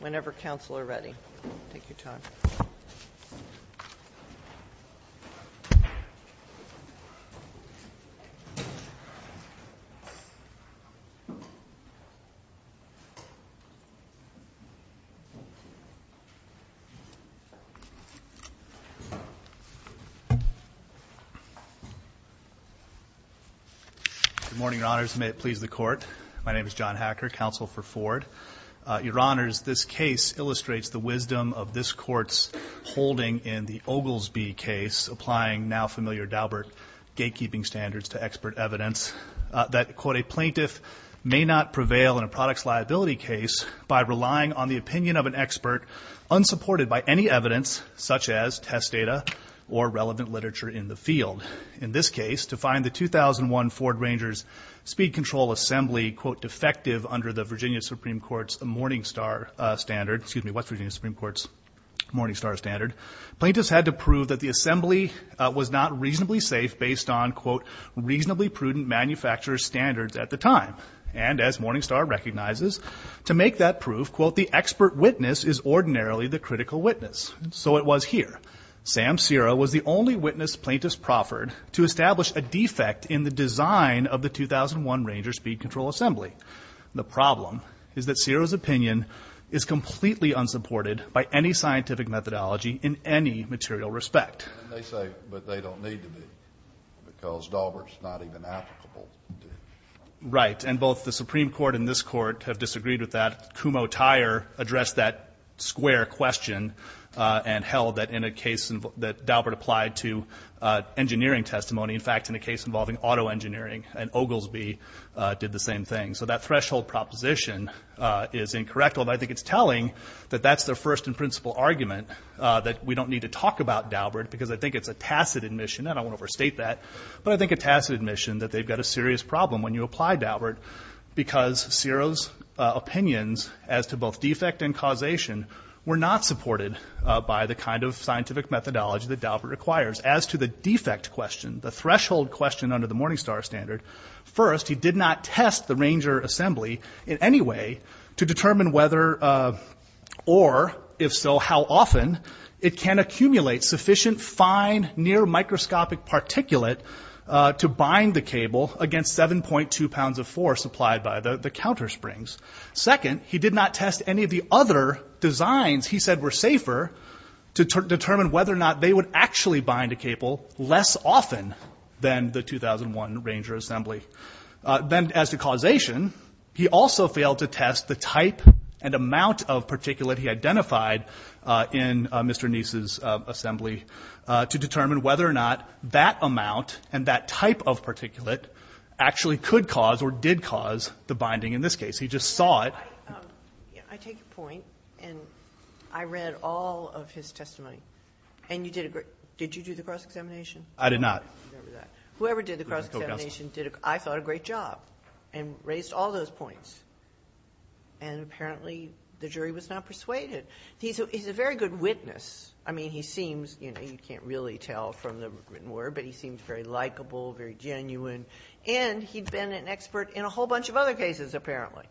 whenever council are ready. Good morning, your honors, and may it please the court, my name is John Hacker, counsel for Ford. Your honors, this case illustrates the wisdom of this court's holding in the Oglesby case, applying now familiar Daubert gatekeeping standards to expert evidence that, quote, a plaintiff may not prevail in a product's liability case by relying on the opinion of an expert unsupported by any evidence such as test data or relevant literature in the field. In this case, to find the 2001 Ford Rangers speed control assembly, quote, defective under the Virginia Supreme Court's Morningstar standard, excuse me, what's Virginia Supreme Court's Morningstar standard? Plaintiffs had to prove that the assembly was not reasonably safe based on, quote, reasonably prudent manufacturer standards at the time. And as Morningstar recognizes, to make that proof, quote, the expert witness is ordinarily the critical witness. So it was here. Sam Serra was the only witness plaintiffs proffered to establish a defect in the design of the 2001 Ranger speed control assembly. The problem is that Serra's opinion is completely unsupported by any scientific methodology in any material respect. And they say, but they don't need to be because Daubert's not even applicable. Right. And both the Supreme Court and this court have disagreed with that. Kumho Tyer addressed that square question and held that in a case that Daubert applied to engineering testimony, in fact, in a case involving auto engineering, and Oglesby did the same thing. So that threshold proposition is incorrect. Although I think it's telling that that's the first in principle argument that we don't need to talk about Daubert because I think it's a tacit admission. And I won't overstate that. But I think a tacit admission that they've got a serious problem when you apply Daubert because Serra's opinions as to both defect and causation were not supported by the kind of scientific methodology that Daubert requires. As to the defect question, the threshold question under the Morningstar standard. First, he did not test the Ranger assembly in any way to determine whether or if so how often it can accumulate sufficient fine near microscopic particulate to bind the cable against 7.2 pounds of force applied by the countersprings. Second, he did not test any of the other designs he said were safer to determine whether or not they would actually bind a cable less often than the 2001 Ranger assembly. Then as to causation, he also failed to test the type and amount of particulate he identified in Mr. Neese's assembly to determine whether or not that amount and that type of particulate actually could cause or did cause the binding in this case. He just saw it. Yeah, I take your point. And I read all of his testimony. And you did a great, did you do the cross-examination? I did not. Whoever did the cross-examination did, I thought, a great job and raised all those points. And apparently the jury was not persuaded. He's a very good witness. I mean, he seems, you know, you can't really tell from the written word, but he seems very likable, very genuine. And he'd been an expert in a whole bunch of other cases, apparently.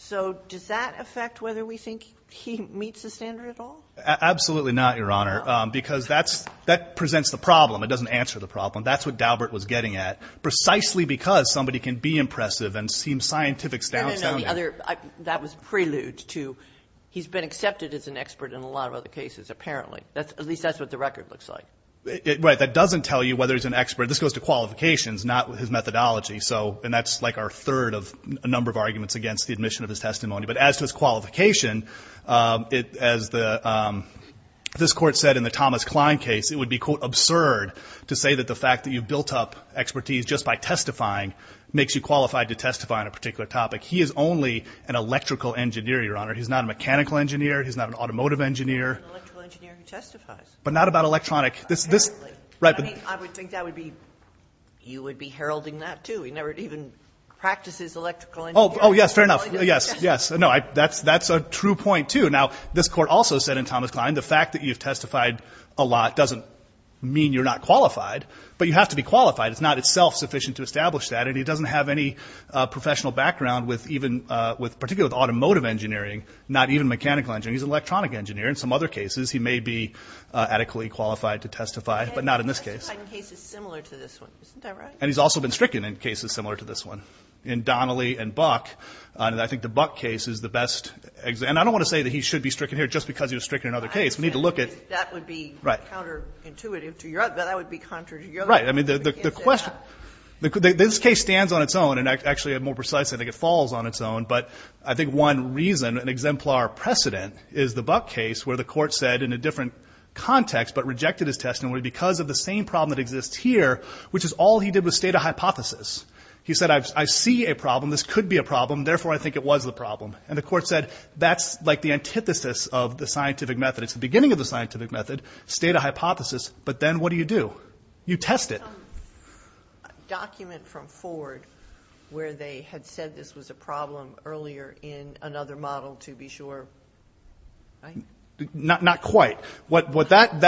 So does that affect whether we think he meets the standard at all? Absolutely not, Your Honor. Because that presents the problem. It doesn't answer the problem. That's what Daubert was getting at. Precisely because somebody can be impressive and seem scientific. That was prelude to he's been accepted as an expert in a lot of other cases, apparently. At least that's what the record looks like. Right. That doesn't tell you whether he's an expert. This goes to qualifications, not his methodology. And that's like our third of a number of arguments against the admission of his testimony. But as to his qualification, as this Court said in the Thomas Klein case, it would be, quote, absurd to say that the fact that you've built up expertise just by testifying makes you qualified to testify on a particular topic. He is only an electrical engineer, Your Honor. He's not a mechanical engineer. He's not an automotive engineer. He's an electrical engineer who testifies. But not about electronic. Right. I mean, I would think you would be heralding that, too. He never even practices electrical engineering. Oh, yes. Fair enough. Yes. Yes. No, that's a true point, too. Now, this Court also said in Thomas Klein, the fact that you've testified a lot doesn't mean you're not qualified. But you have to be qualified. It's not itself sufficient to establish that. And he doesn't have any professional background, particularly with automotive engineering, not even mechanical engineering. He's an electronic engineer. In some other cases, he may be adequately qualified to testify. But not in this case. But he's testified in cases similar to this one. Isn't that right? And he's also been stricken in cases similar to this one. In Donnelly and Buck. I think the Buck case is the best example. And I don't want to say that he should be stricken here just because he was stricken in another case. We need to look at— That would be counterintuitive to your— That would be contrary to your— Right. I mean, the question— This case stands on its own. And actually, more precisely, I think it falls on its own. But I think one reason, an exemplar precedent, is the Buck case where the court said in a different context, but rejected his testimony because of the same problem that exists here, which is all he did was state a hypothesis. He said, I see a problem. This could be a problem. Therefore, I think it was the problem. And the court said, that's like the antithesis of the scientific method. It's the beginning of the scientific method. State a hypothesis. But then what do you do? You test it. Is there some document from Ford where they had said this was a problem earlier in another model, to be sure? Not quite. What that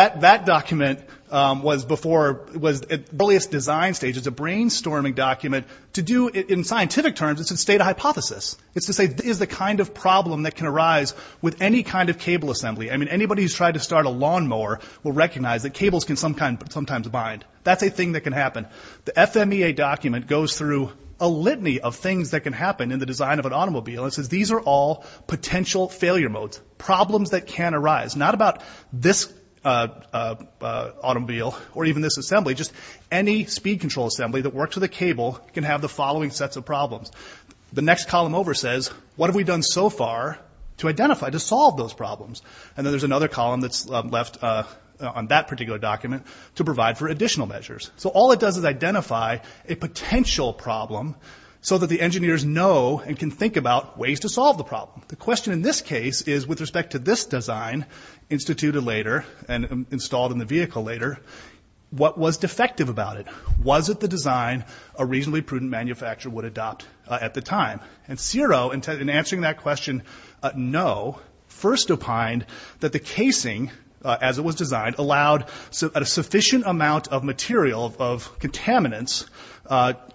document was before— It was at the earliest design stage. It's a brainstorming document. To do it in scientific terms, it's to state a hypothesis. It's to say, this is the kind of problem that can arise with any kind of cable assembly. I mean, anybody who's tried to start a lawnmower will recognize that cables can sometimes bind. That's a thing that can happen. The FMEA document goes through a litany of things that can happen in the design of an automobile and says, these are all potential failure modes. Problems that can arise. Not about this automobile or even this assembly. Just any speed control assembly that works with a cable can have the following sets of problems. The next column over says, what have we done so far to identify, to solve those problems? And then there's another column that's left on that particular document to provide for measures. All it does is identify a potential problem so that the engineers know and can think about ways to solve the problem. The question in this case is, with respect to this design, instituted later and installed in the vehicle later, what was defective about it? Was it the design a reasonably prudent manufacturer would adopt at the time? And Ciro, in answering that question, no, first opined that the casing, as it was designed, allowed a sufficient amount of material of contaminants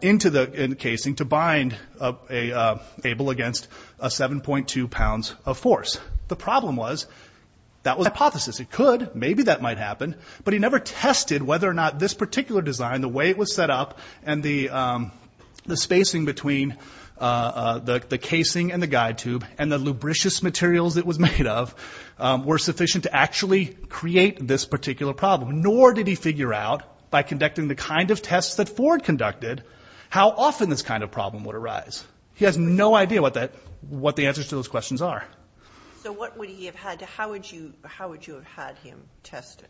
into the casing to bind a cable against a 7.2 pounds of force. The problem was, that was a hypothesis. It could, maybe that might happen, but he never tested whether or not this particular design, the way it was set up and the spacing between the casing and the guide tube and the lubricious materials it was made of, were sufficient to actually create this particular problem. Nor did he figure out, by conducting the kind of tests that Ford conducted, how often this kind of problem would arise. He has no idea what the answers to those questions are. So what would he have had to, how would you have had him test it?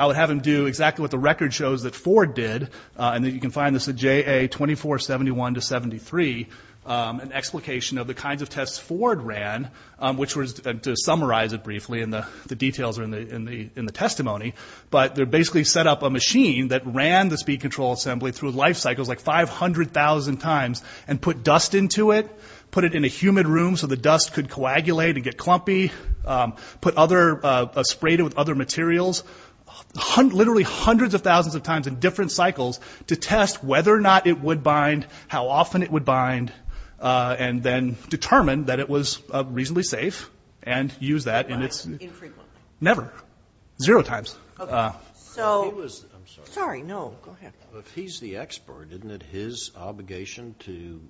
I would have him do exactly what the record shows that Ford did, and that you can find this at JA 2471-73, an explication of the kinds of tests Ford ran, which was, to summarize it briefly, and the details are in the testimony, but they basically set up a machine that ran the speed control assembly through life cycles like 500,000 times and put dust into it, put it in a humid room so the dust could coagulate and get clumpy, put other, sprayed it with other materials, literally hundreds of thousands of times in different cycles to test whether or not it would bind, how often it would bind, and then determine that it was reasonably safe, and use that in its... Infrequently. Never. Zero times. Okay. So, sorry, no, go ahead. If he's the expert, isn't it his obligation to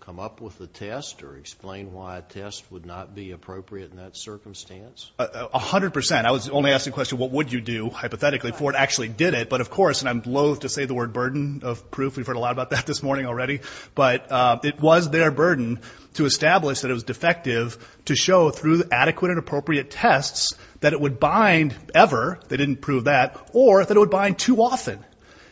come up with a test or explain why a test would not be appropriate in that circumstance? A hundred percent. I was only asking the question, what would you do, hypothetically, Ford actually did it, but of course, and I'm loathe to say the word burden of proof, we've heard a lot about that this morning already, but it was their burden to establish that it was defective to show through adequate and appropriate tests that it would bind ever, they didn't prove that, or that it would bind too often.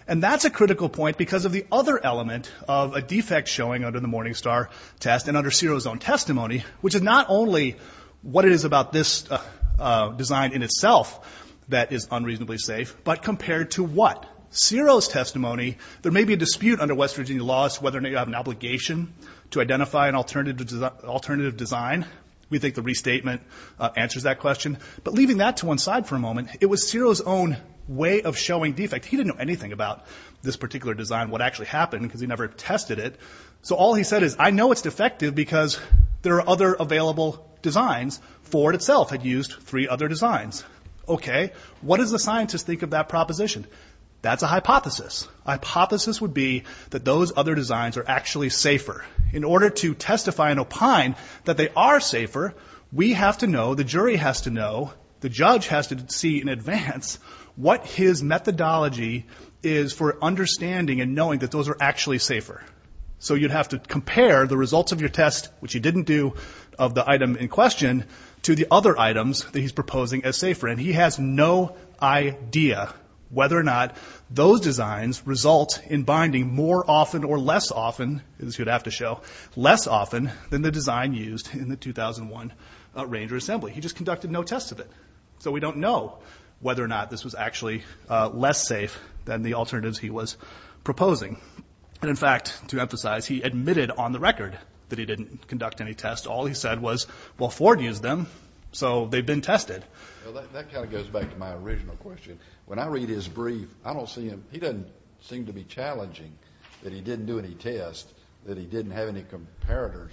And that's a critical point because of the other element of a defect showing under the Morningstar test and under Cero's own testimony, which is not only what it is about this design in itself that is unreasonably safe, but compared to what? Cero's testimony, there may be a dispute under West Virginia laws whether or not you have an obligation to identify an alternative design. We think the restatement answers that question. But leaving that to one side for a moment, it was Cero's own way of showing defect. He didn't know anything about this particular design, what actually happened, because he never tested it. So all he said is, I know it's defective because there are other available designs Ford itself had used three other designs. Okay, what does the scientist think of that proposition? That's a hypothesis. Hypothesis would be that those other designs are actually safer. In order to testify and opine that they are safer, we have to know, the jury has to know, the judge has to see in advance what his methodology is for understanding and knowing that those are actually safer. So you'd have to compare the results of your test, which you didn't do of the item in question, to the other items that he's proposing as safer. And he has no idea whether or not those designs result in binding more often or less often, as he would have to show, less often than the design used in the 2001 Ranger Assembly. He just conducted no tests of it. So we don't know whether or not this was actually less safe than the alternatives he was proposing. And in fact, to emphasize, he admitted on the record that he didn't conduct any tests. All he said was, well, Ford used them, so they've been tested. That kind of goes back to my original question. When I read his brief, I don't see him, he doesn't seem to be challenging that he didn't do any tests, that he didn't have any comparators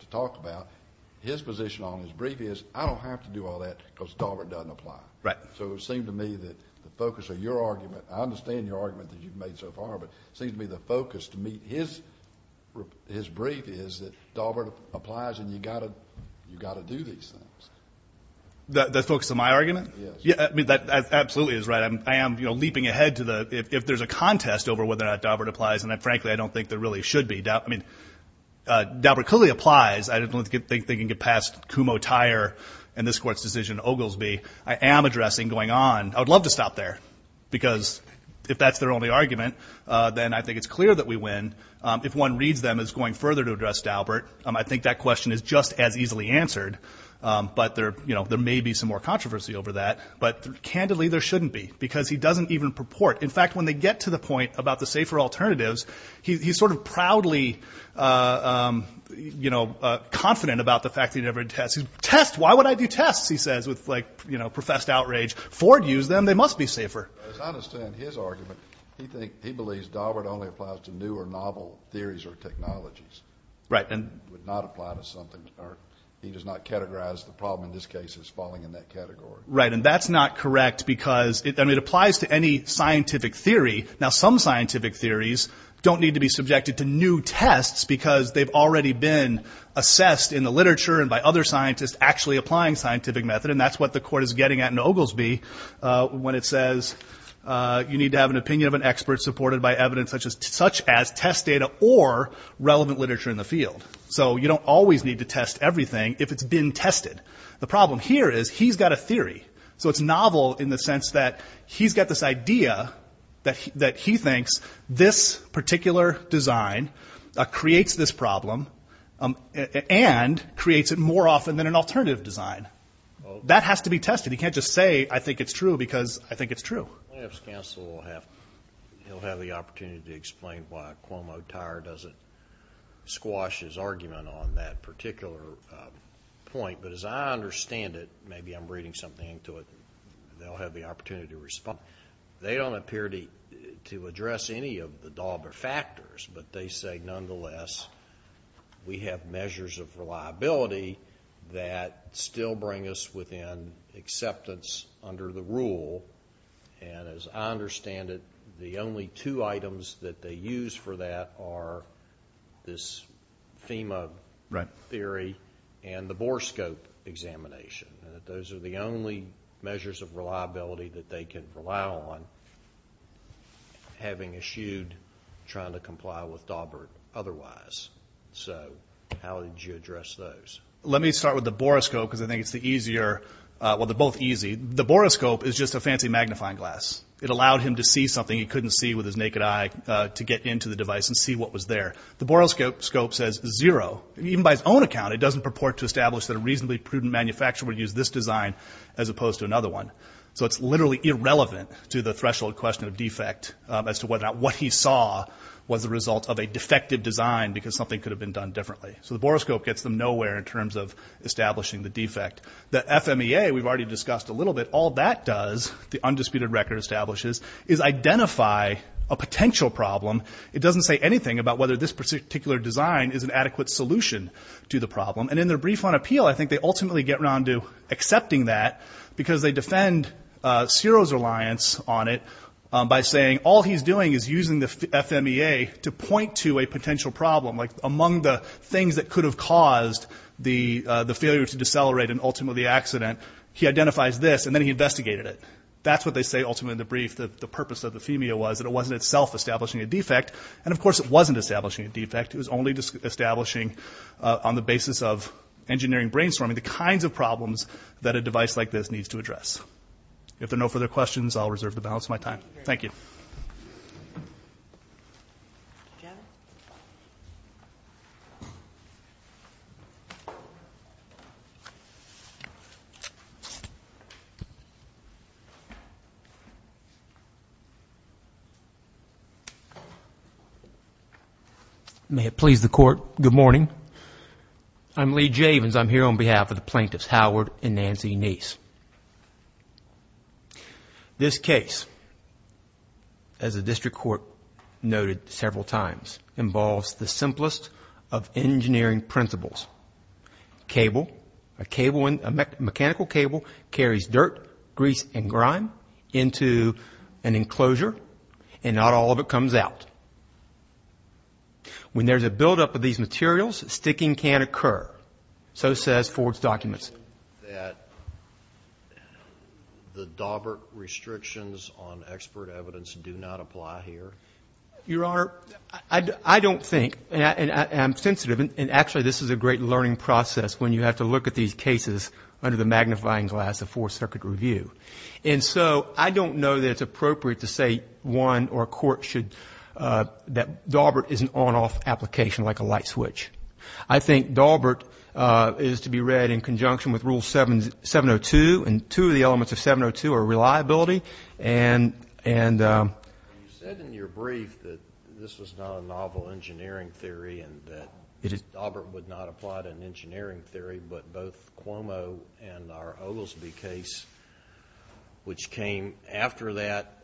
to talk about. His position on his brief is, I don't have to do all that because Daubert doesn't apply. Right. So it seemed to me that the focus of your argument, I understand your argument that you've made so far, but it seems to me the focus to meet his brief is that Daubert applies and you've got to do these things. The focus of my argument? Yes. I mean, that absolutely is right. I am leaping ahead to the, if there's a contest over whether or not Daubert applies, and frankly, I don't think there really should be. I mean, Daubert clearly applies. I don't think they can get past Kumho-Tyre and this Court's decision in Oglesby. I am addressing going on. I would love to stop there because if that's their only argument, then I think it's clear that we win if one reads them as going further to address Daubert. I think that question is just as easily answered, but there may be some more controversy over that. But candidly, there shouldn't be because he doesn't even purport. In fact, when they get to the point about the safer alternatives, he's sort of proudly confident about the fact that he never did tests. Tests? Why would I do tests? He says with professed outrage. Ford used them. They must be safer. I understand his argument. He believes Daubert only applies to new or novel theories or technologies. Right. Would not apply to something or he does not categorize the problem in this case as falling in that category. Right. And that's not correct because it applies to any scientific theory. Now, some scientific theories don't need to be subjected to new tests because they've already been assessed in the literature and by other scientists actually applying scientific method. And that's what the Court is getting at in Oglesby when it says you need to have an opinion of an expert supported by evidence such as test data or relevant literature in the field. So you don't always need to test everything if it's been tested. The problem here is he's got a theory. So it's novel in the sense that he's got this idea that he thinks this particular design creates this problem and creates it more often than an alternative design. That has to be tested. He can't just say, I think it's true because I think it's true. Counsel will have, he'll have the opportunity to explain why Cuomo Tire doesn't squash his argument on that particular point. But as I understand it, maybe I'm reading something to it. They'll have the opportunity to respond. They don't appear to address any of the Dauber factors, but they say, nonetheless, we have measures of reliability that still bring us within acceptance under the rule. And as I understand it, the only two items that they use for that are this FEMA theory and the Borescope examination. Those are the only measures of reliability that they can rely on, having eschewed trying to comply with Daubert otherwise. So how would you address those? Let me start with the Borescope because I think it's the easier, well, they're both easy. The Borescope is just a fancy magnifying glass. It allowed him to see something he couldn't see with his naked eye to get into the device and see what was there. The Borescope says zero. Even by his own account, it doesn't purport to establish that a reasonably prudent manufacturer would use this design as opposed to another one. So it's literally irrelevant to the threshold question of defect as to whether or not what he saw was the result of a defective design because something could have been done differently. So the Borescope gets them nowhere in terms of establishing the defect. The FMEA, we've already discussed a little bit, all that does, the undisputed record establishes, is identify a potential problem. It doesn't say anything about whether this particular design is an adequate solution to the problem. And in their brief on appeal, I think they ultimately get around to accepting that because they defend Ciro's reliance on it by saying all he's doing is using the FMEA to point to a potential problem, like among the things that could have caused the failure to decelerate and ultimately the accident, he identifies this and then he investigated it. That's what they say ultimately in the brief. The purpose of the FMEA was that it wasn't itself establishing a defect. And of course, it wasn't establishing a defect. It was only establishing on the basis of engineering brainstorming the kinds of problems that a device like this needs to address. If there are no further questions, I'll reserve the balance of my time. Thank you. May it please the court. Good morning. I'm Lee Javins. I'm here on behalf of the plaintiffs, Howard and Nancy Neese. This case, as the district court noted several times, involves the simplest of engineering principles. A mechanical cable carries dirt, grease, and grime into an enclosure and not all of it comes out. When there's a buildup of these materials, sticking can occur. So says Ford's documents. That the Daubert restrictions on expert evidence do not apply here? Your Honor, I don't think, and I'm sensitive, and actually this is a great learning process when you have to look at these cases under the magnifying glass of fourth circuit review. And so I don't know that it's appropriate to say one or a court should, that Daubert is an on-off application like a light switch. I think Daubert is to be read in conjunction with rule 702 and two of the elements of 702 are reliability. And you said in your brief that this was not a novel engineering theory and that Daubert would not apply to an engineering theory, but both Cuomo and our Oglesby case, which came after that,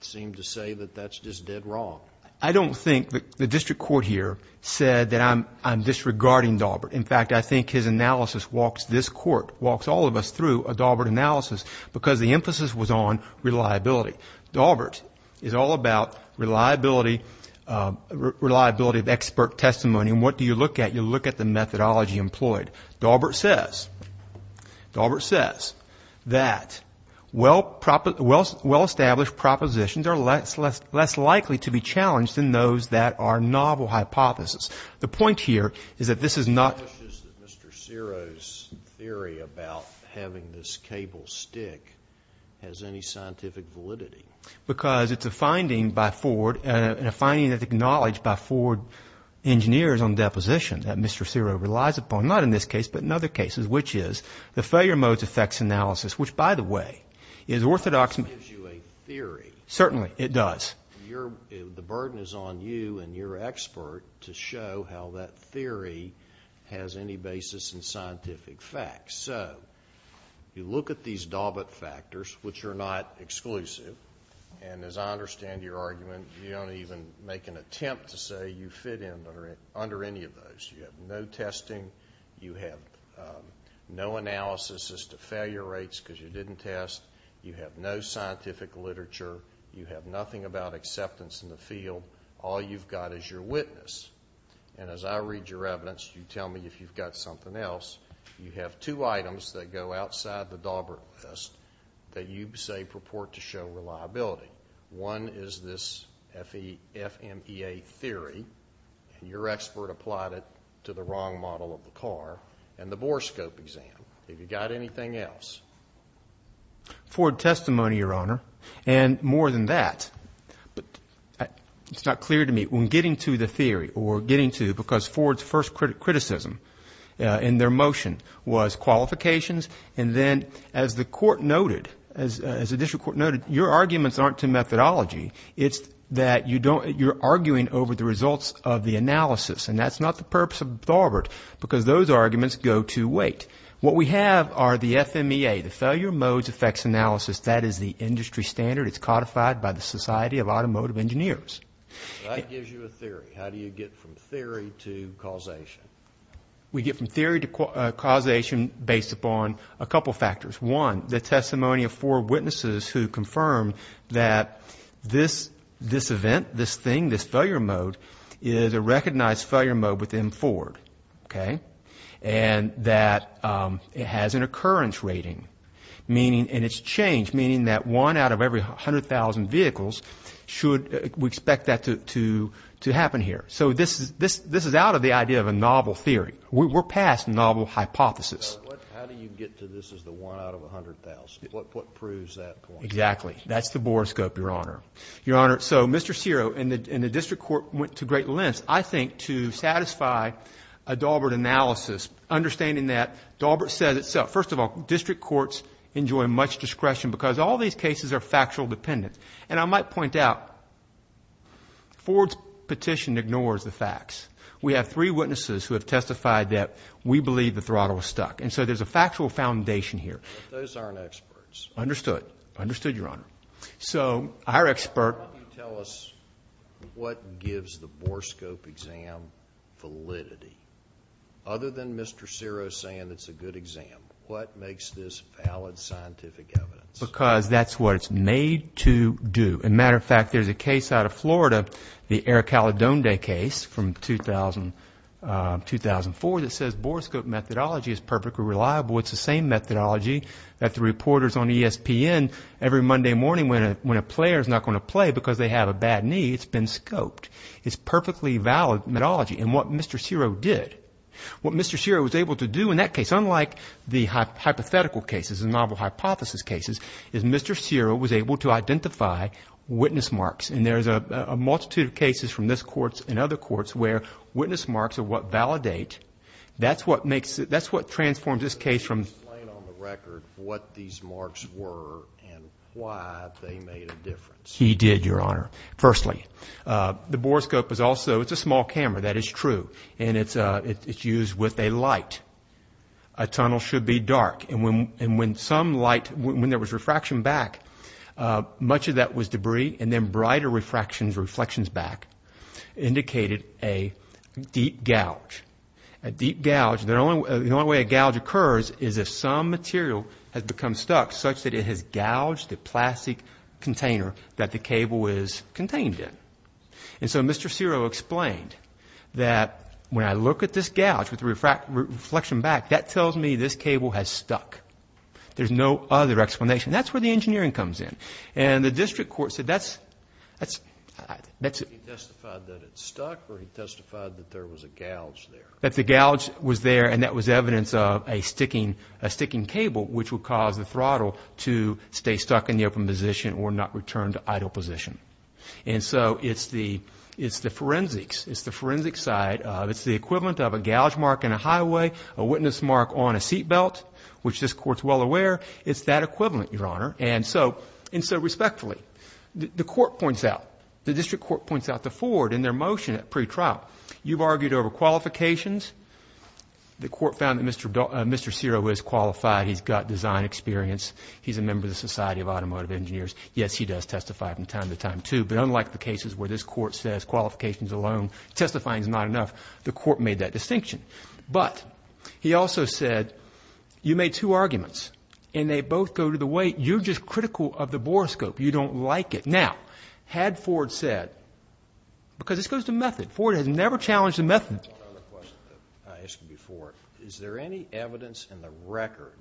seem to say that that's just dead wrong. I don't think the district court here said that I'm disregarding Daubert. In fact, I think his analysis walks this court, walks all of us through a Daubert analysis because the emphasis was on reliability. Daubert is all about reliability of expert testimony. And what do you look at? You look at the methodology employed. Daubert says, Daubert says that well established propositions are less likely to be challenged than those that are novel hypotheses. The point here is that this is not... It's not just that Mr. Ciro's theory about having this cable stick has any scientific validity. Because it's a finding by Ford and a finding that's acknowledged by Ford engineers on this case, but in other cases, which is the failure modes effects analysis, which, by the way, is orthodox... It gives you a theory. Certainly, it does. The burden is on you and your expert to show how that theory has any basis in scientific facts. So you look at these Daubert factors, which are not exclusive, and as I understand your argument, you don't even make an attempt to say you fit in under any of those. You have no testing. You have no analysis as to failure rates because you didn't test. You have no scientific literature. You have nothing about acceptance in the field. All you've got is your witness. And as I read your evidence, you tell me if you've got something else. You have two items that go outside the Daubert list that you say purport to show reliability. One is this FMEA theory, and your expert applied it to the wrong model of the car, and the Borescope exam. Have you got anything else? Ford testimony, Your Honor. And more than that, but it's not clear to me when getting to the theory or getting to because Ford's first criticism in their motion was qualifications, and then as the court noted, your arguments aren't to methodology. It's that you're arguing over the results of the analysis, and that's not the purpose of Daubert because those arguments go to weight. What we have are the FMEA, the failure modes effects analysis. That is the industry standard. It's codified by the Society of Automotive Engineers. That gives you a theory. How do you get from theory to causation? We get from theory to causation based upon a couple factors. One, the testimony of four witnesses who confirmed that this event, this thing, this failure mode is a recognized failure mode within Ford, and that it has an occurrence rating, and it's changed, meaning that one out of every 100,000 vehicles, we expect that to happen here. So this is out of the idea of a novel theory. We're past novel hypothesis. How do you get to this as the one out of 100,000? What proves that point? Exactly. That's the borescope, Your Honor. Your Honor, so Mr. Ciro and the district court went to great lengths, I think, to satisfy a Daubert analysis, understanding that Daubert says itself. First of all, district courts enjoy much discretion because all these cases are factual dependent, and I might point out Ford's petition ignores the facts. We have three witnesses who have testified that we believe the throttle was stuck, and so there's a factual foundation here. But those aren't experts. Understood. Understood, Your Honor. So our expert... Why don't you tell us what gives the borescope exam validity? Other than Mr. Ciro saying it's a good exam, what makes this valid scientific evidence? Because that's what it's made to do. As a matter of fact, there's a case out of Florida, the Eric Caledonde case from 2004 that says borescope methodology is perfectly reliable. It's the same methodology that the reporters on ESPN, every Monday morning when a player is not going to play because they have a bad knee, it's been scoped. It's perfectly valid methodology, and what Mr. Ciro did, what Mr. Ciro was able to do in that case, unlike the hypothetical cases and novel hypothesis cases, is Mr. Ciro was able to identify witness marks, and there's a multitude of cases from this court and other courts where witness marks are what validate. That's what transforms this case from... Can you explain on the record what these marks were and why they made a difference? He did, Your Honor. Firstly, the borescope is also... it's a small camera, that is true, and it's used with a light. A tunnel should be dark, and when some light, when there was refraction back, much of that was debris, and then brighter refractions, reflections back, indicated a deep gouge. A deep gouge, the only way a gouge occurs is if some material has become stuck such that it has gouged the plastic container that the cable is contained in, and so Mr. Ciro explained that when I look at this gouge with the reflection back, that tells me this cable has stuck. There's no other explanation. That's where the engineering comes in, and the district court said that's... He testified that it stuck, or he testified that there was a gouge there? That the gouge was there, and that was evidence of a sticking cable, which would cause the throttle to stay stuck in the open position or not return to idle position, and so it's the forensics. It's the forensic side. It's the equivalent of a gouge mark in a highway, a witness mark on a seat belt, which this Court's well aware. It's that equivalent, Your Honor, and so respectfully, the court points out, the district court points out to Ford in their motion at pretrial, you've argued over qualifications. The court found that Mr. Ciro is qualified. He's got design experience. He's a member of the Society of Automotive Engineers. Yes, he does testify from time to time, too, but unlike the cases where this Court says qualifications alone, testifying is not enough, the court made that distinction, but he also said you made two arguments, and they both go to the weight. You're just critical of the bore scope. You don't like it. Now, had Ford said... because this goes to method. Ford has never challenged the method. I have one other question that I asked you before. Is there any evidence in the record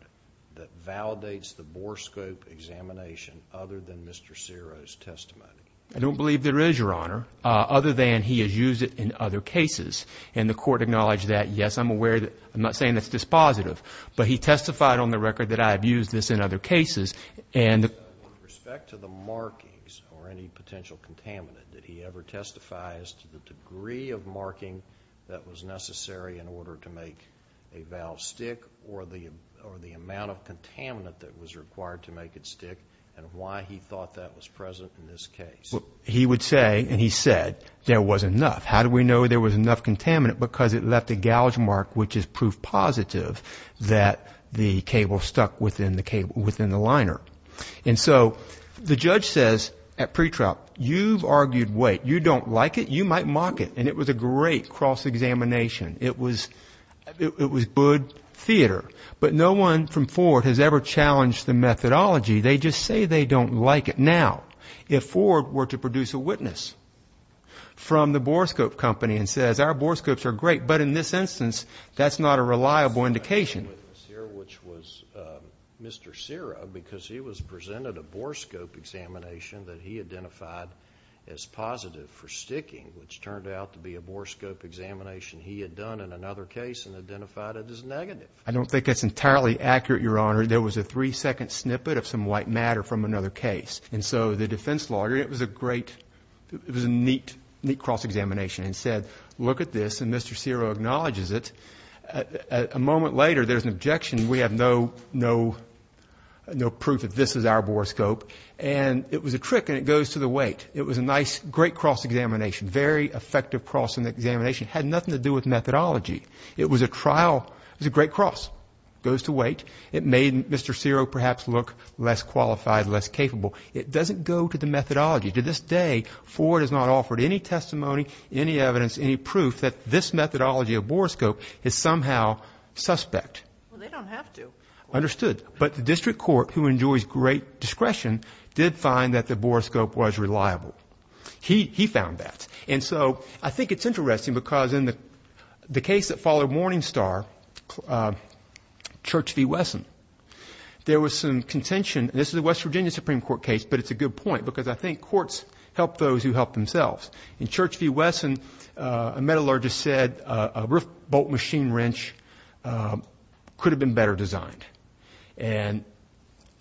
that validates the bore scope examination other than Mr. Ciro's testimony? I don't believe there is, Your Honor, other than he has used it in other cases, and the court acknowledged that. Yes, I'm aware that... I'm not saying that's dispositive, but he testified on the record that I have used this in other cases, and... With respect to the markings or any potential contaminant, did he ever testify as to the value of a stick or the amount of contaminant that was required to make it stick, and why he thought that was present in this case? He would say, and he said, there wasn't enough. How do we know there was enough contaminant? Because it left a gouge mark, which is proof positive that the cable stuck within the liner. So, the judge says at pretrial, you've argued weight. You don't like it. You might mock it, and it was a great cross-examination. It was... it was good theater. But no one from Ford has ever challenged the methodology. They just say they don't like it. Now, if Ford were to produce a witness from the Borescope company and says, our Borescopes are great, but in this instance, that's not a reliable indication. Which was Mr. Ciro, because he was presented a Borescope examination that he identified as positive for sticking, which turned out to be a Borescope examination he had done in another case and identified it as negative. I don't think that's entirely accurate, Your Honor. There was a three-second snippet of some white matter from another case. And so, the defense lawyer, it was a great... it was a neat cross-examination and said, look at this, and Mr. Ciro acknowledges it. A moment later, there's an objection. We have no proof that this is our Borescope. And it was a trick, and it goes to the weight. It was a nice, great cross-examination. Very effective cross-examination. Had nothing to do with methodology. It was a trial. It was a great cross. It goes to weight. It made Mr. Ciro perhaps look less qualified, less capable. It doesn't go to the methodology. To this day, Ford has not offered any testimony, any evidence, any proof that this methodology of Borescope is somehow suspect. Well, they don't have to. Understood. But the district court, who enjoys great discretion, did find that the Borescope was reliable. He found that. And so I think it's interesting, because in the case that followed Morningstar, Church v. Wesson, there was some contention. This is a West Virginia Supreme Court case, but it's a good point, because I think courts help those who help themselves. In Church v. Wesson, a metallurgist said a rift-bolt machine wrench could have been better designed. And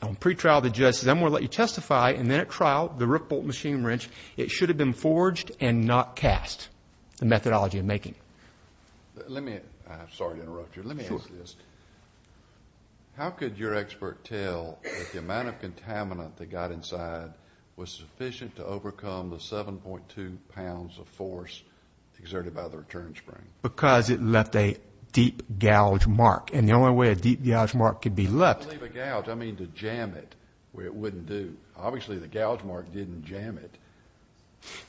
on pretrial, the judge says, I'm going to let you testify. And then at trial, the rift-bolt machine wrench, it should have been forged and not cast, the methodology of making. Let me, I'm sorry to interrupt you. Let me ask this. How could your expert tell that the amount of contaminant that got inside was sufficient to overcome the 7.2 pounds of force exerted by the return spring? Because it left a deep gouge mark. And the only way a deep gouge mark could be left. By leave a gouge, I mean to jam it, where it wouldn't do. Obviously, the gouge mark didn't jam it.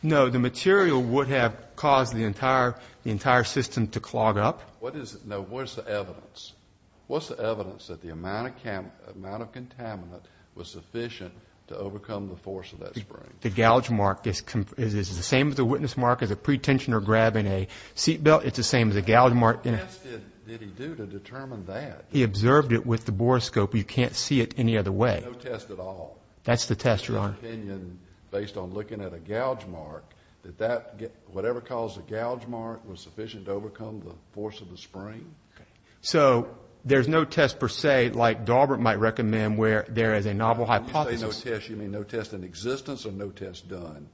No, the material would have caused the entire system to clog up. What is it? No, what's the evidence? What's the evidence that the amount of contaminant was sufficient to overcome the force of that spring? The gouge mark is the same as the witness mark as a pretensioner grabbing a seat belt. It's the same as a gouge mark. What test did he do to determine that? He observed it with the borescope. No test at all? That's the test, Your Honor. In your opinion, based on looking at a gouge mark, that whatever caused the gouge mark was sufficient to overcome the force of the spring? So, there's no test, per se, like Daubert might recommend, where there is a novel hypothesis. When you say no test, you mean no test in existence or no test done?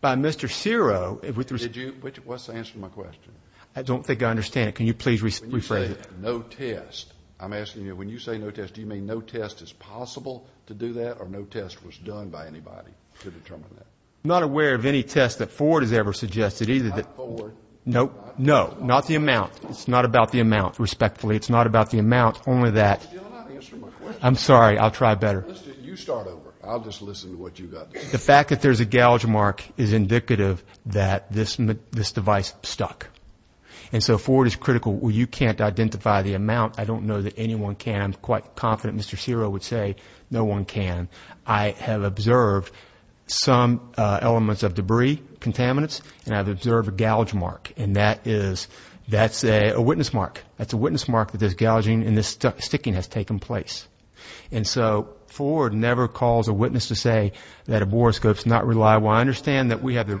By Mr. Ciro. What's the answer to my question? I don't think I understand it. Can you please rephrase it? No test. I'm asking you, when you say no test, do you mean no test is possible to do that, or no test was done by anybody to determine that? I'm not aware of any test that Ford has ever suggested, either. Not Ford. Nope. No. Not the amount. It's not about the amount, respectfully. It's not about the amount, only that— You're not answering my question. I'm sorry. I'll try better. You start over. I'll just listen to what you've got to say. The fact that there's a gouge mark is indicative that this device stuck. And so, Ford is critical. You can't identify the amount. I don't know that anyone can. I'm quite confident Mr. Ciro would say no one can. I have observed some elements of debris, contaminants, and I've observed a gouge mark. And that is—that's a witness mark. That's a witness mark that this gouging and this sticking has taken place. And so, Ford never calls a witness to say that a borescope's not reliable. I understand that we have the—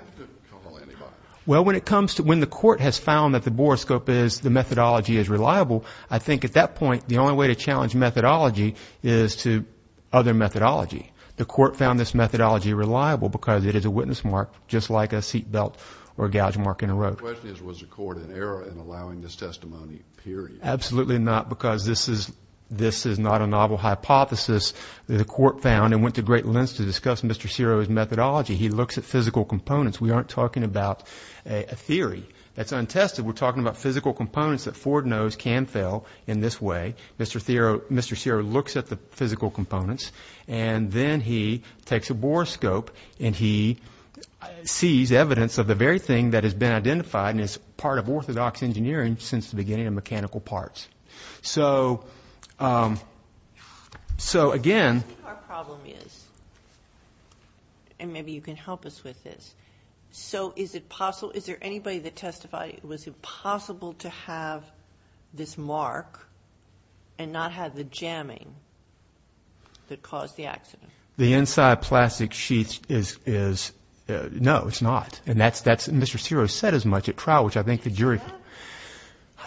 Well, when it comes to—when the court has found that the borescope is— the methodology is reliable, I think at that point, the only way to challenge methodology is to other methodology. The court found this methodology reliable because it is a witness mark, just like a seatbelt or a gouge mark in a rope. The question is, was the court in error in allowing this testimony, period? Absolutely not, because this is not a novel hypothesis. The court found and went to great lengths to discuss Mr. Ciro's methodology. He looks at physical components. We aren't talking about a theory that's untested. We're talking about physical components that Ford knows can fail in this way. Mr. Ciro looks at the physical components, and then he takes a borescope, and he sees evidence of the very thing that has been identified and is part of orthodox engineering since the beginning of mechanical parts. So, again— I think our problem is—and maybe you can help us with this. So, is it possible—is there anybody that testified, was it possible to have this mark and not have the jamming that caused the accident? The inside plastic sheet is—no, it's not. And that's—Mr. Ciro said as much at trial, which I think the jury—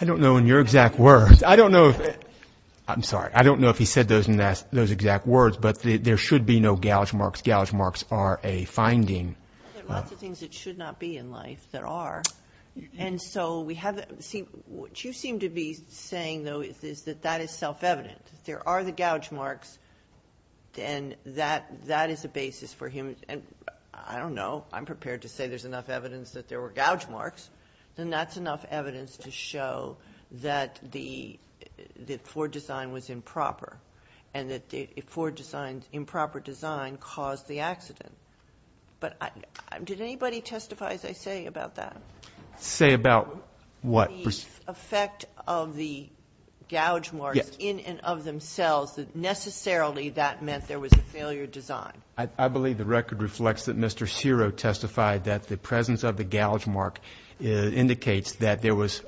I don't know in your exact words. I don't know—I'm sorry. I don't know if he said those exact words, but there should be no gouge marks. Gouge marks are a finding. There are lots of things that should not be in life that are, and so we have—see, what you seem to be saying, though, is that that is self-evident. There are the gouge marks, and that is a basis for him— and I don't know. I'm prepared to say there's enough evidence that there were gouge marks, and that's enough evidence to show that the Ford design was improper, and that the Ford design's improper design caused the accident. But did anybody testify, as I say, about that? Say about what? The effect of the gouge marks in and of themselves, that necessarily that meant there was a failure design. I believe the record reflects that Mr. Ciro testified that the presence of the gouge mark indicates that there was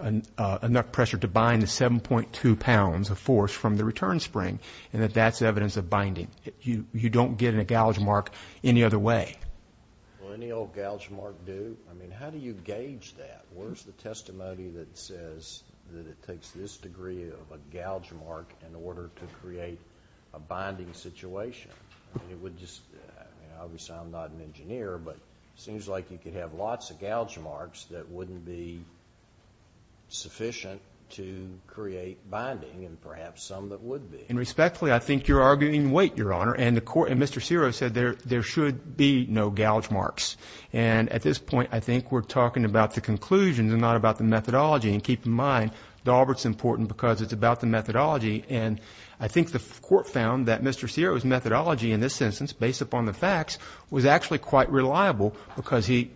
enough pressure to bind the 7.2 pounds of force from the return spring, and that that's evidence of binding. You don't get a gouge mark any other way. Well, any old gouge mark do. I mean, how do you gauge that? Where's the testimony that says that it takes this degree of a gouge mark in order to create a binding situation? I mean, it would just—obviously, I'm not an engineer, but it seems like you could have lots of gouge marks that wouldn't be sufficient to create binding, and perhaps some that would be. And respectfully, I think you're arguing weight. And Mr. Ciro said there should be no gouge marks. And at this point, I think we're talking about the conclusions and not about the methodology. And keep in mind, Dalbert's important because it's about the methodology. And I think the court found that Mr. Ciro's methodology in this instance, based upon the facts, was actually quite reliable because he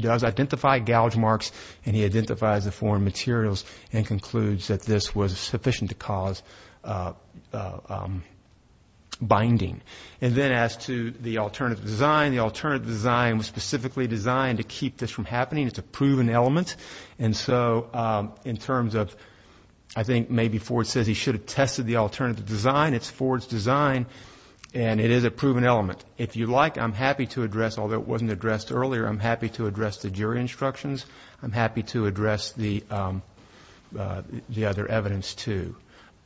does identify gouge marks and he identifies the foreign materials and concludes that this was sufficient to cause binding. And then as to the alternative design, the alternative design was specifically designed to keep this from happening. It's a proven element. And so in terms of—I think maybe Ford says he should have tested the alternative design. It's Ford's design, and it is a proven element. If you like, I'm happy to address—although it wasn't addressed earlier, I'm happy to address the jury instructions. I'm happy to address the other evidence, too.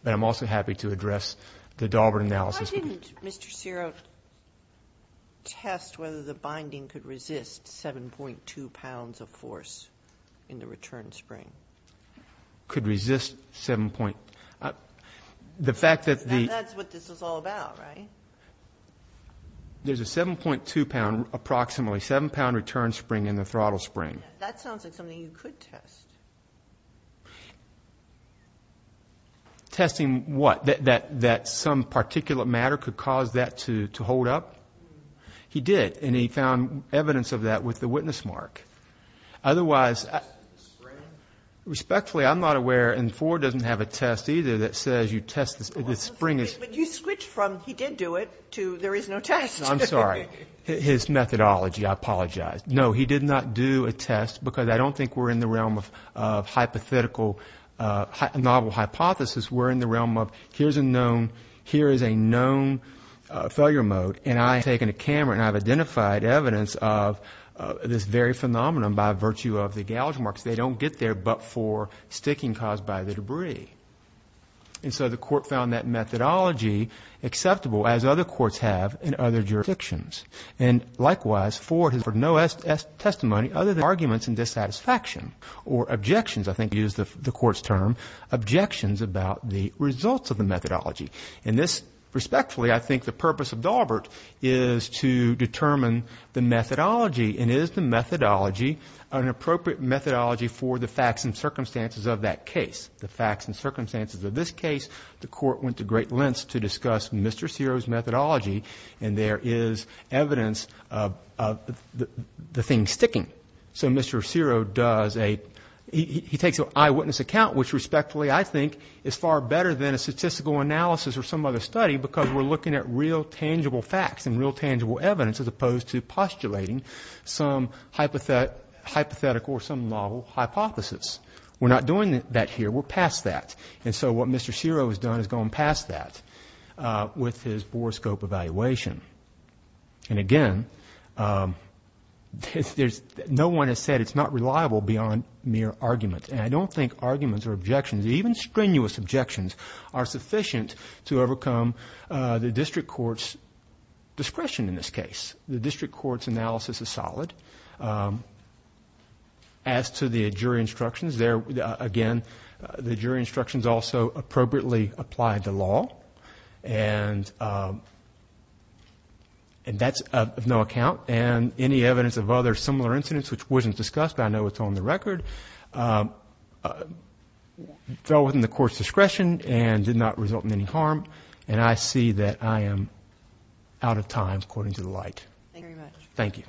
But I'm also happy to address the Dalbert analysis. Why didn't Mr. Ciro test whether the binding could resist 7.2 pounds of force in the return spring? Could resist 7.—the fact that the— That's what this is all about, right? There's a 7.2-pound, approximately 7-pound return spring in the throttle spring. That sounds like something you could test. Testing what? That some particulate matter could cause that to hold up? He did, and he found evidence of that with the witness mark. Otherwise— Respectfully, I'm not aware—and Ford doesn't have a test, either, that says you test the spring. But you switched from he did do it to there is no test. I'm sorry. His methodology. I apologize. No, he did not do a test because I don't think we're in the realm of hypothetical— We're in the realm of here's a known—here is a known failure mode, and I've taken a camera and I've identified evidence of this very phenomenon by virtue of the gouge marks. They don't get there but for sticking caused by the debris. And so the court found that methodology acceptable, as other courts have in other jurisdictions. And likewise, Ford has heard no testimony other than arguments and dissatisfaction, or objections—I think he used the court's term—objections about the results of the methodology. And this, respectfully, I think the purpose of Daubert is to determine the methodology. And is the methodology an appropriate methodology for the facts and circumstances of that case? The facts and circumstances of this case, the court went to great lengths to discuss Mr. Ciro's methodology, and there is evidence of the thing sticking. So Mr. Ciro does a—he takes an eyewitness account, which respectfully, I think, is far better than a statistical analysis or some other study, because we're looking at real tangible facts and real tangible evidence, as opposed to postulating some hypothetical or some novel hypothesis. We're not doing that here. We're past that. And so what Mr. Ciro has done is gone past that with his bore scope evaluation. And again, no one has said it's not reliable beyond mere argument. And I don't think arguments or objections, even strenuous objections, are sufficient to overcome the district court's discretion in this case. The district court's analysis is solid. As to the jury instructions, there, again, the jury instructions also appropriately apply the law. And that's of no account. And any evidence of other similar incidents, which wasn't discussed, but I know it's on the record, fell within the court's discretion and did not result in any harm. And I see that I am out of time, according to the light. Thank you very much. Thank you.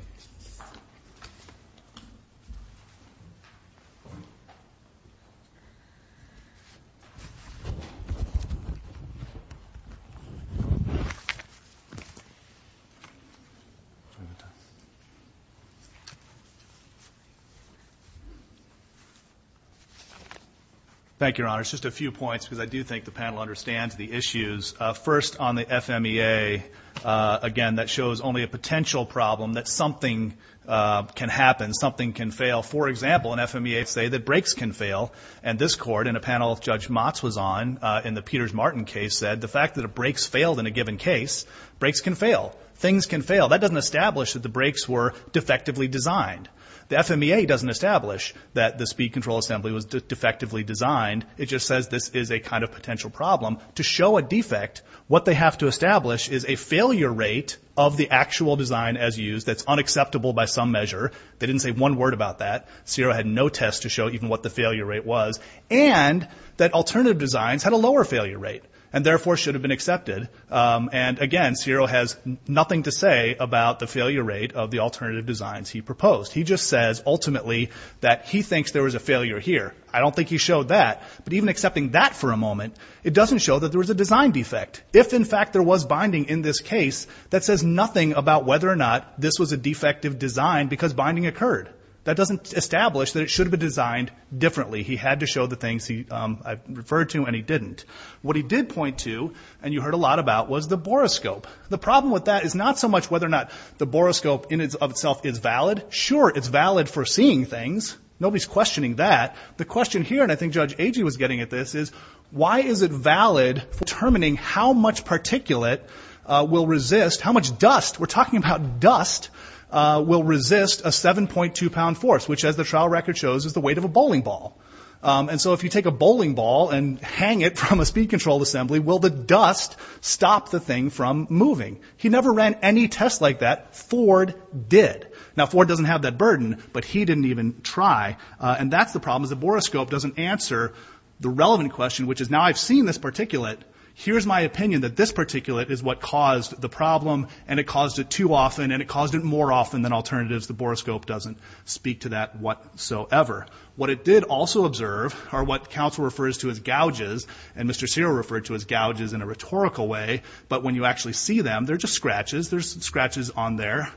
Thank you, Your Honor. It's just a few points, because I do think the panel understands the issues. First, on the FMEA, again, that shows only a potential problem, that something can happen, something can fail. For example, in FMEA, they say that breaks can fail. And this court, and a panel of Judge Motz was on in the Peters-Martin case, the fact that breaks failed in a given case, breaks can fail. Things can fail. That doesn't establish that the breaks were defectively designed. The FMEA doesn't establish that the speed control assembly was defectively designed. It just says this is a kind of potential problem. To show a defect, what they have to establish is a failure rate of the actual design as used that's unacceptable by some measure. They didn't say one word about that. CIRA had no test to show even what the failure rate was. And that alternative designs had a lower failure rate. And therefore, should have been accepted. And again, CIRA has nothing to say about the failure rate of the alternative designs he proposed. He just says, ultimately, that he thinks there was a failure here. I don't think he showed that. But even accepting that for a moment, it doesn't show that there was a design defect. If, in fact, there was binding in this case, that says nothing about whether or not this was a defective design because binding occurred. That doesn't establish that it should have been designed differently. He had to show the things I referred to, and he didn't. What he did point to, and you heard a lot about, was the boroscope. The problem with that is not so much whether or not the boroscope in itself is valid. Sure, it's valid for seeing things. Nobody's questioning that. The question here, and I think Judge Agee was getting at this, is why is it valid for determining how much particulate will resist, how much dust, we're talking about dust, will resist a 7.2 pound force, which, as the trial record shows, is the weight of a bowling ball. And so if you take a bowling ball and hang it from a speed control assembly, will the dust stop the thing from moving? He never ran any test like that. Ford did. Now, Ford doesn't have that burden, but he didn't even try. And that's the problem is the boroscope doesn't answer the relevant question, which is now I've seen this particulate. Here's my opinion that this particulate is what caused the problem, and it caused it too often, and it caused it more often than alternatives. The boroscope doesn't speak to that whatsoever. What it did also observe are what counsel refers to as gouges, and Mr. Cyril referred to as gouges in a rhetorical way, but when you actually see them, they're just scratches. There's some scratches on there.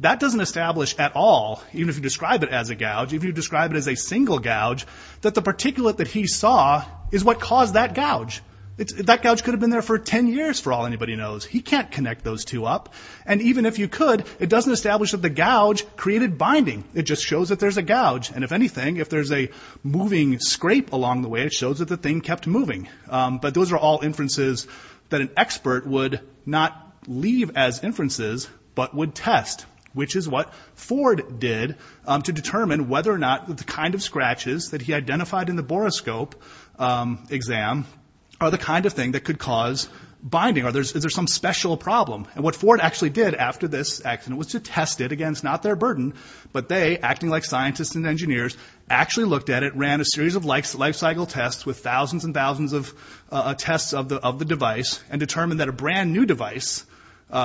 That doesn't establish at all, even if you describe it as a gouge, if you describe it as a single gouge, that the particulate that he saw is what caused that gouge. That gouge could have been there for 10 years for all anybody knows. He can't connect those two up. And even if you could, it doesn't establish that the gouge created binding. It just shows that there's a gouge, and if anything, if there's a moving scrape along the way, it shows that the thing kept moving, but those are all inferences that an expert would not leave as inferences, but would test, which is what Ford did to determine whether or not the kind of scratches that he identified in the boroscope exam are the kind of thing that could cause binding, or is there some special problem. And what Ford actually did after this accident was to test it against not their burden, but they, acting like scientists and engineers, actually looked at it, ran a series of life cycle tests with thousands and thousands of tests of the device, and determined that a brand new device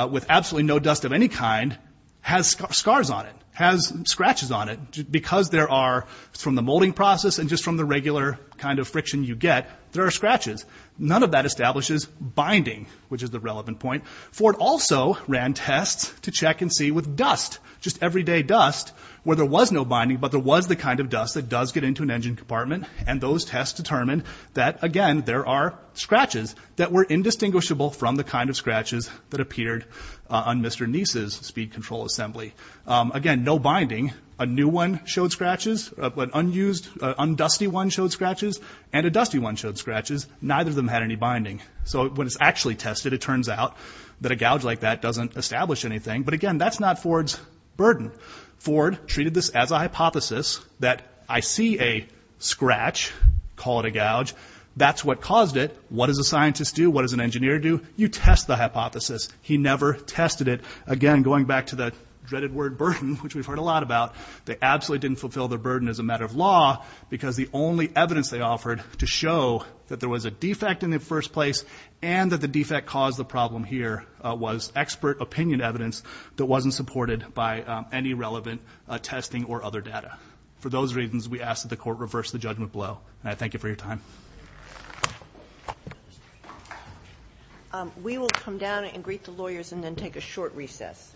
with absolutely no dust of any kind has scars on it, has scratches on it, because there are, from the molding process and just from the regular kind of friction you get, there are scratches. None of that establishes binding, which is the relevant point. Ford also ran tests to check and see with dust, just everyday dust, where there was no binding, but there was the kind of dust that does get into an engine compartment, and those tests determined that, again, there are scratches that were indistinguishable from the kind of scratches that appeared on Mr. Neese's speed control assembly. Again, no binding. A new one showed scratches, an unused, undusty one showed scratches, and a dusty one showed scratches. Neither of them had any binding. So when it's actually tested, it turns out that a gouge like that doesn't establish anything. Again, that's not Ford's burden. Ford treated this as a hypothesis, that I see a scratch, call it a gouge, that's what caused it. What does a scientist do? What does an engineer do? You test the hypothesis. He never tested it. Again, going back to the dreaded word burden, which we've heard a lot about, they absolutely didn't fulfill their burden as a matter of law, because the only evidence they offered to show that there was a defect in the first place and that the defect caused the problem here was expert opinion evidence that wasn't supported by any relevant testing or other data. For those reasons, we ask that the court reverse the judgment blow. And I thank you for your time. We will come down and greet the lawyers and then take a short recess.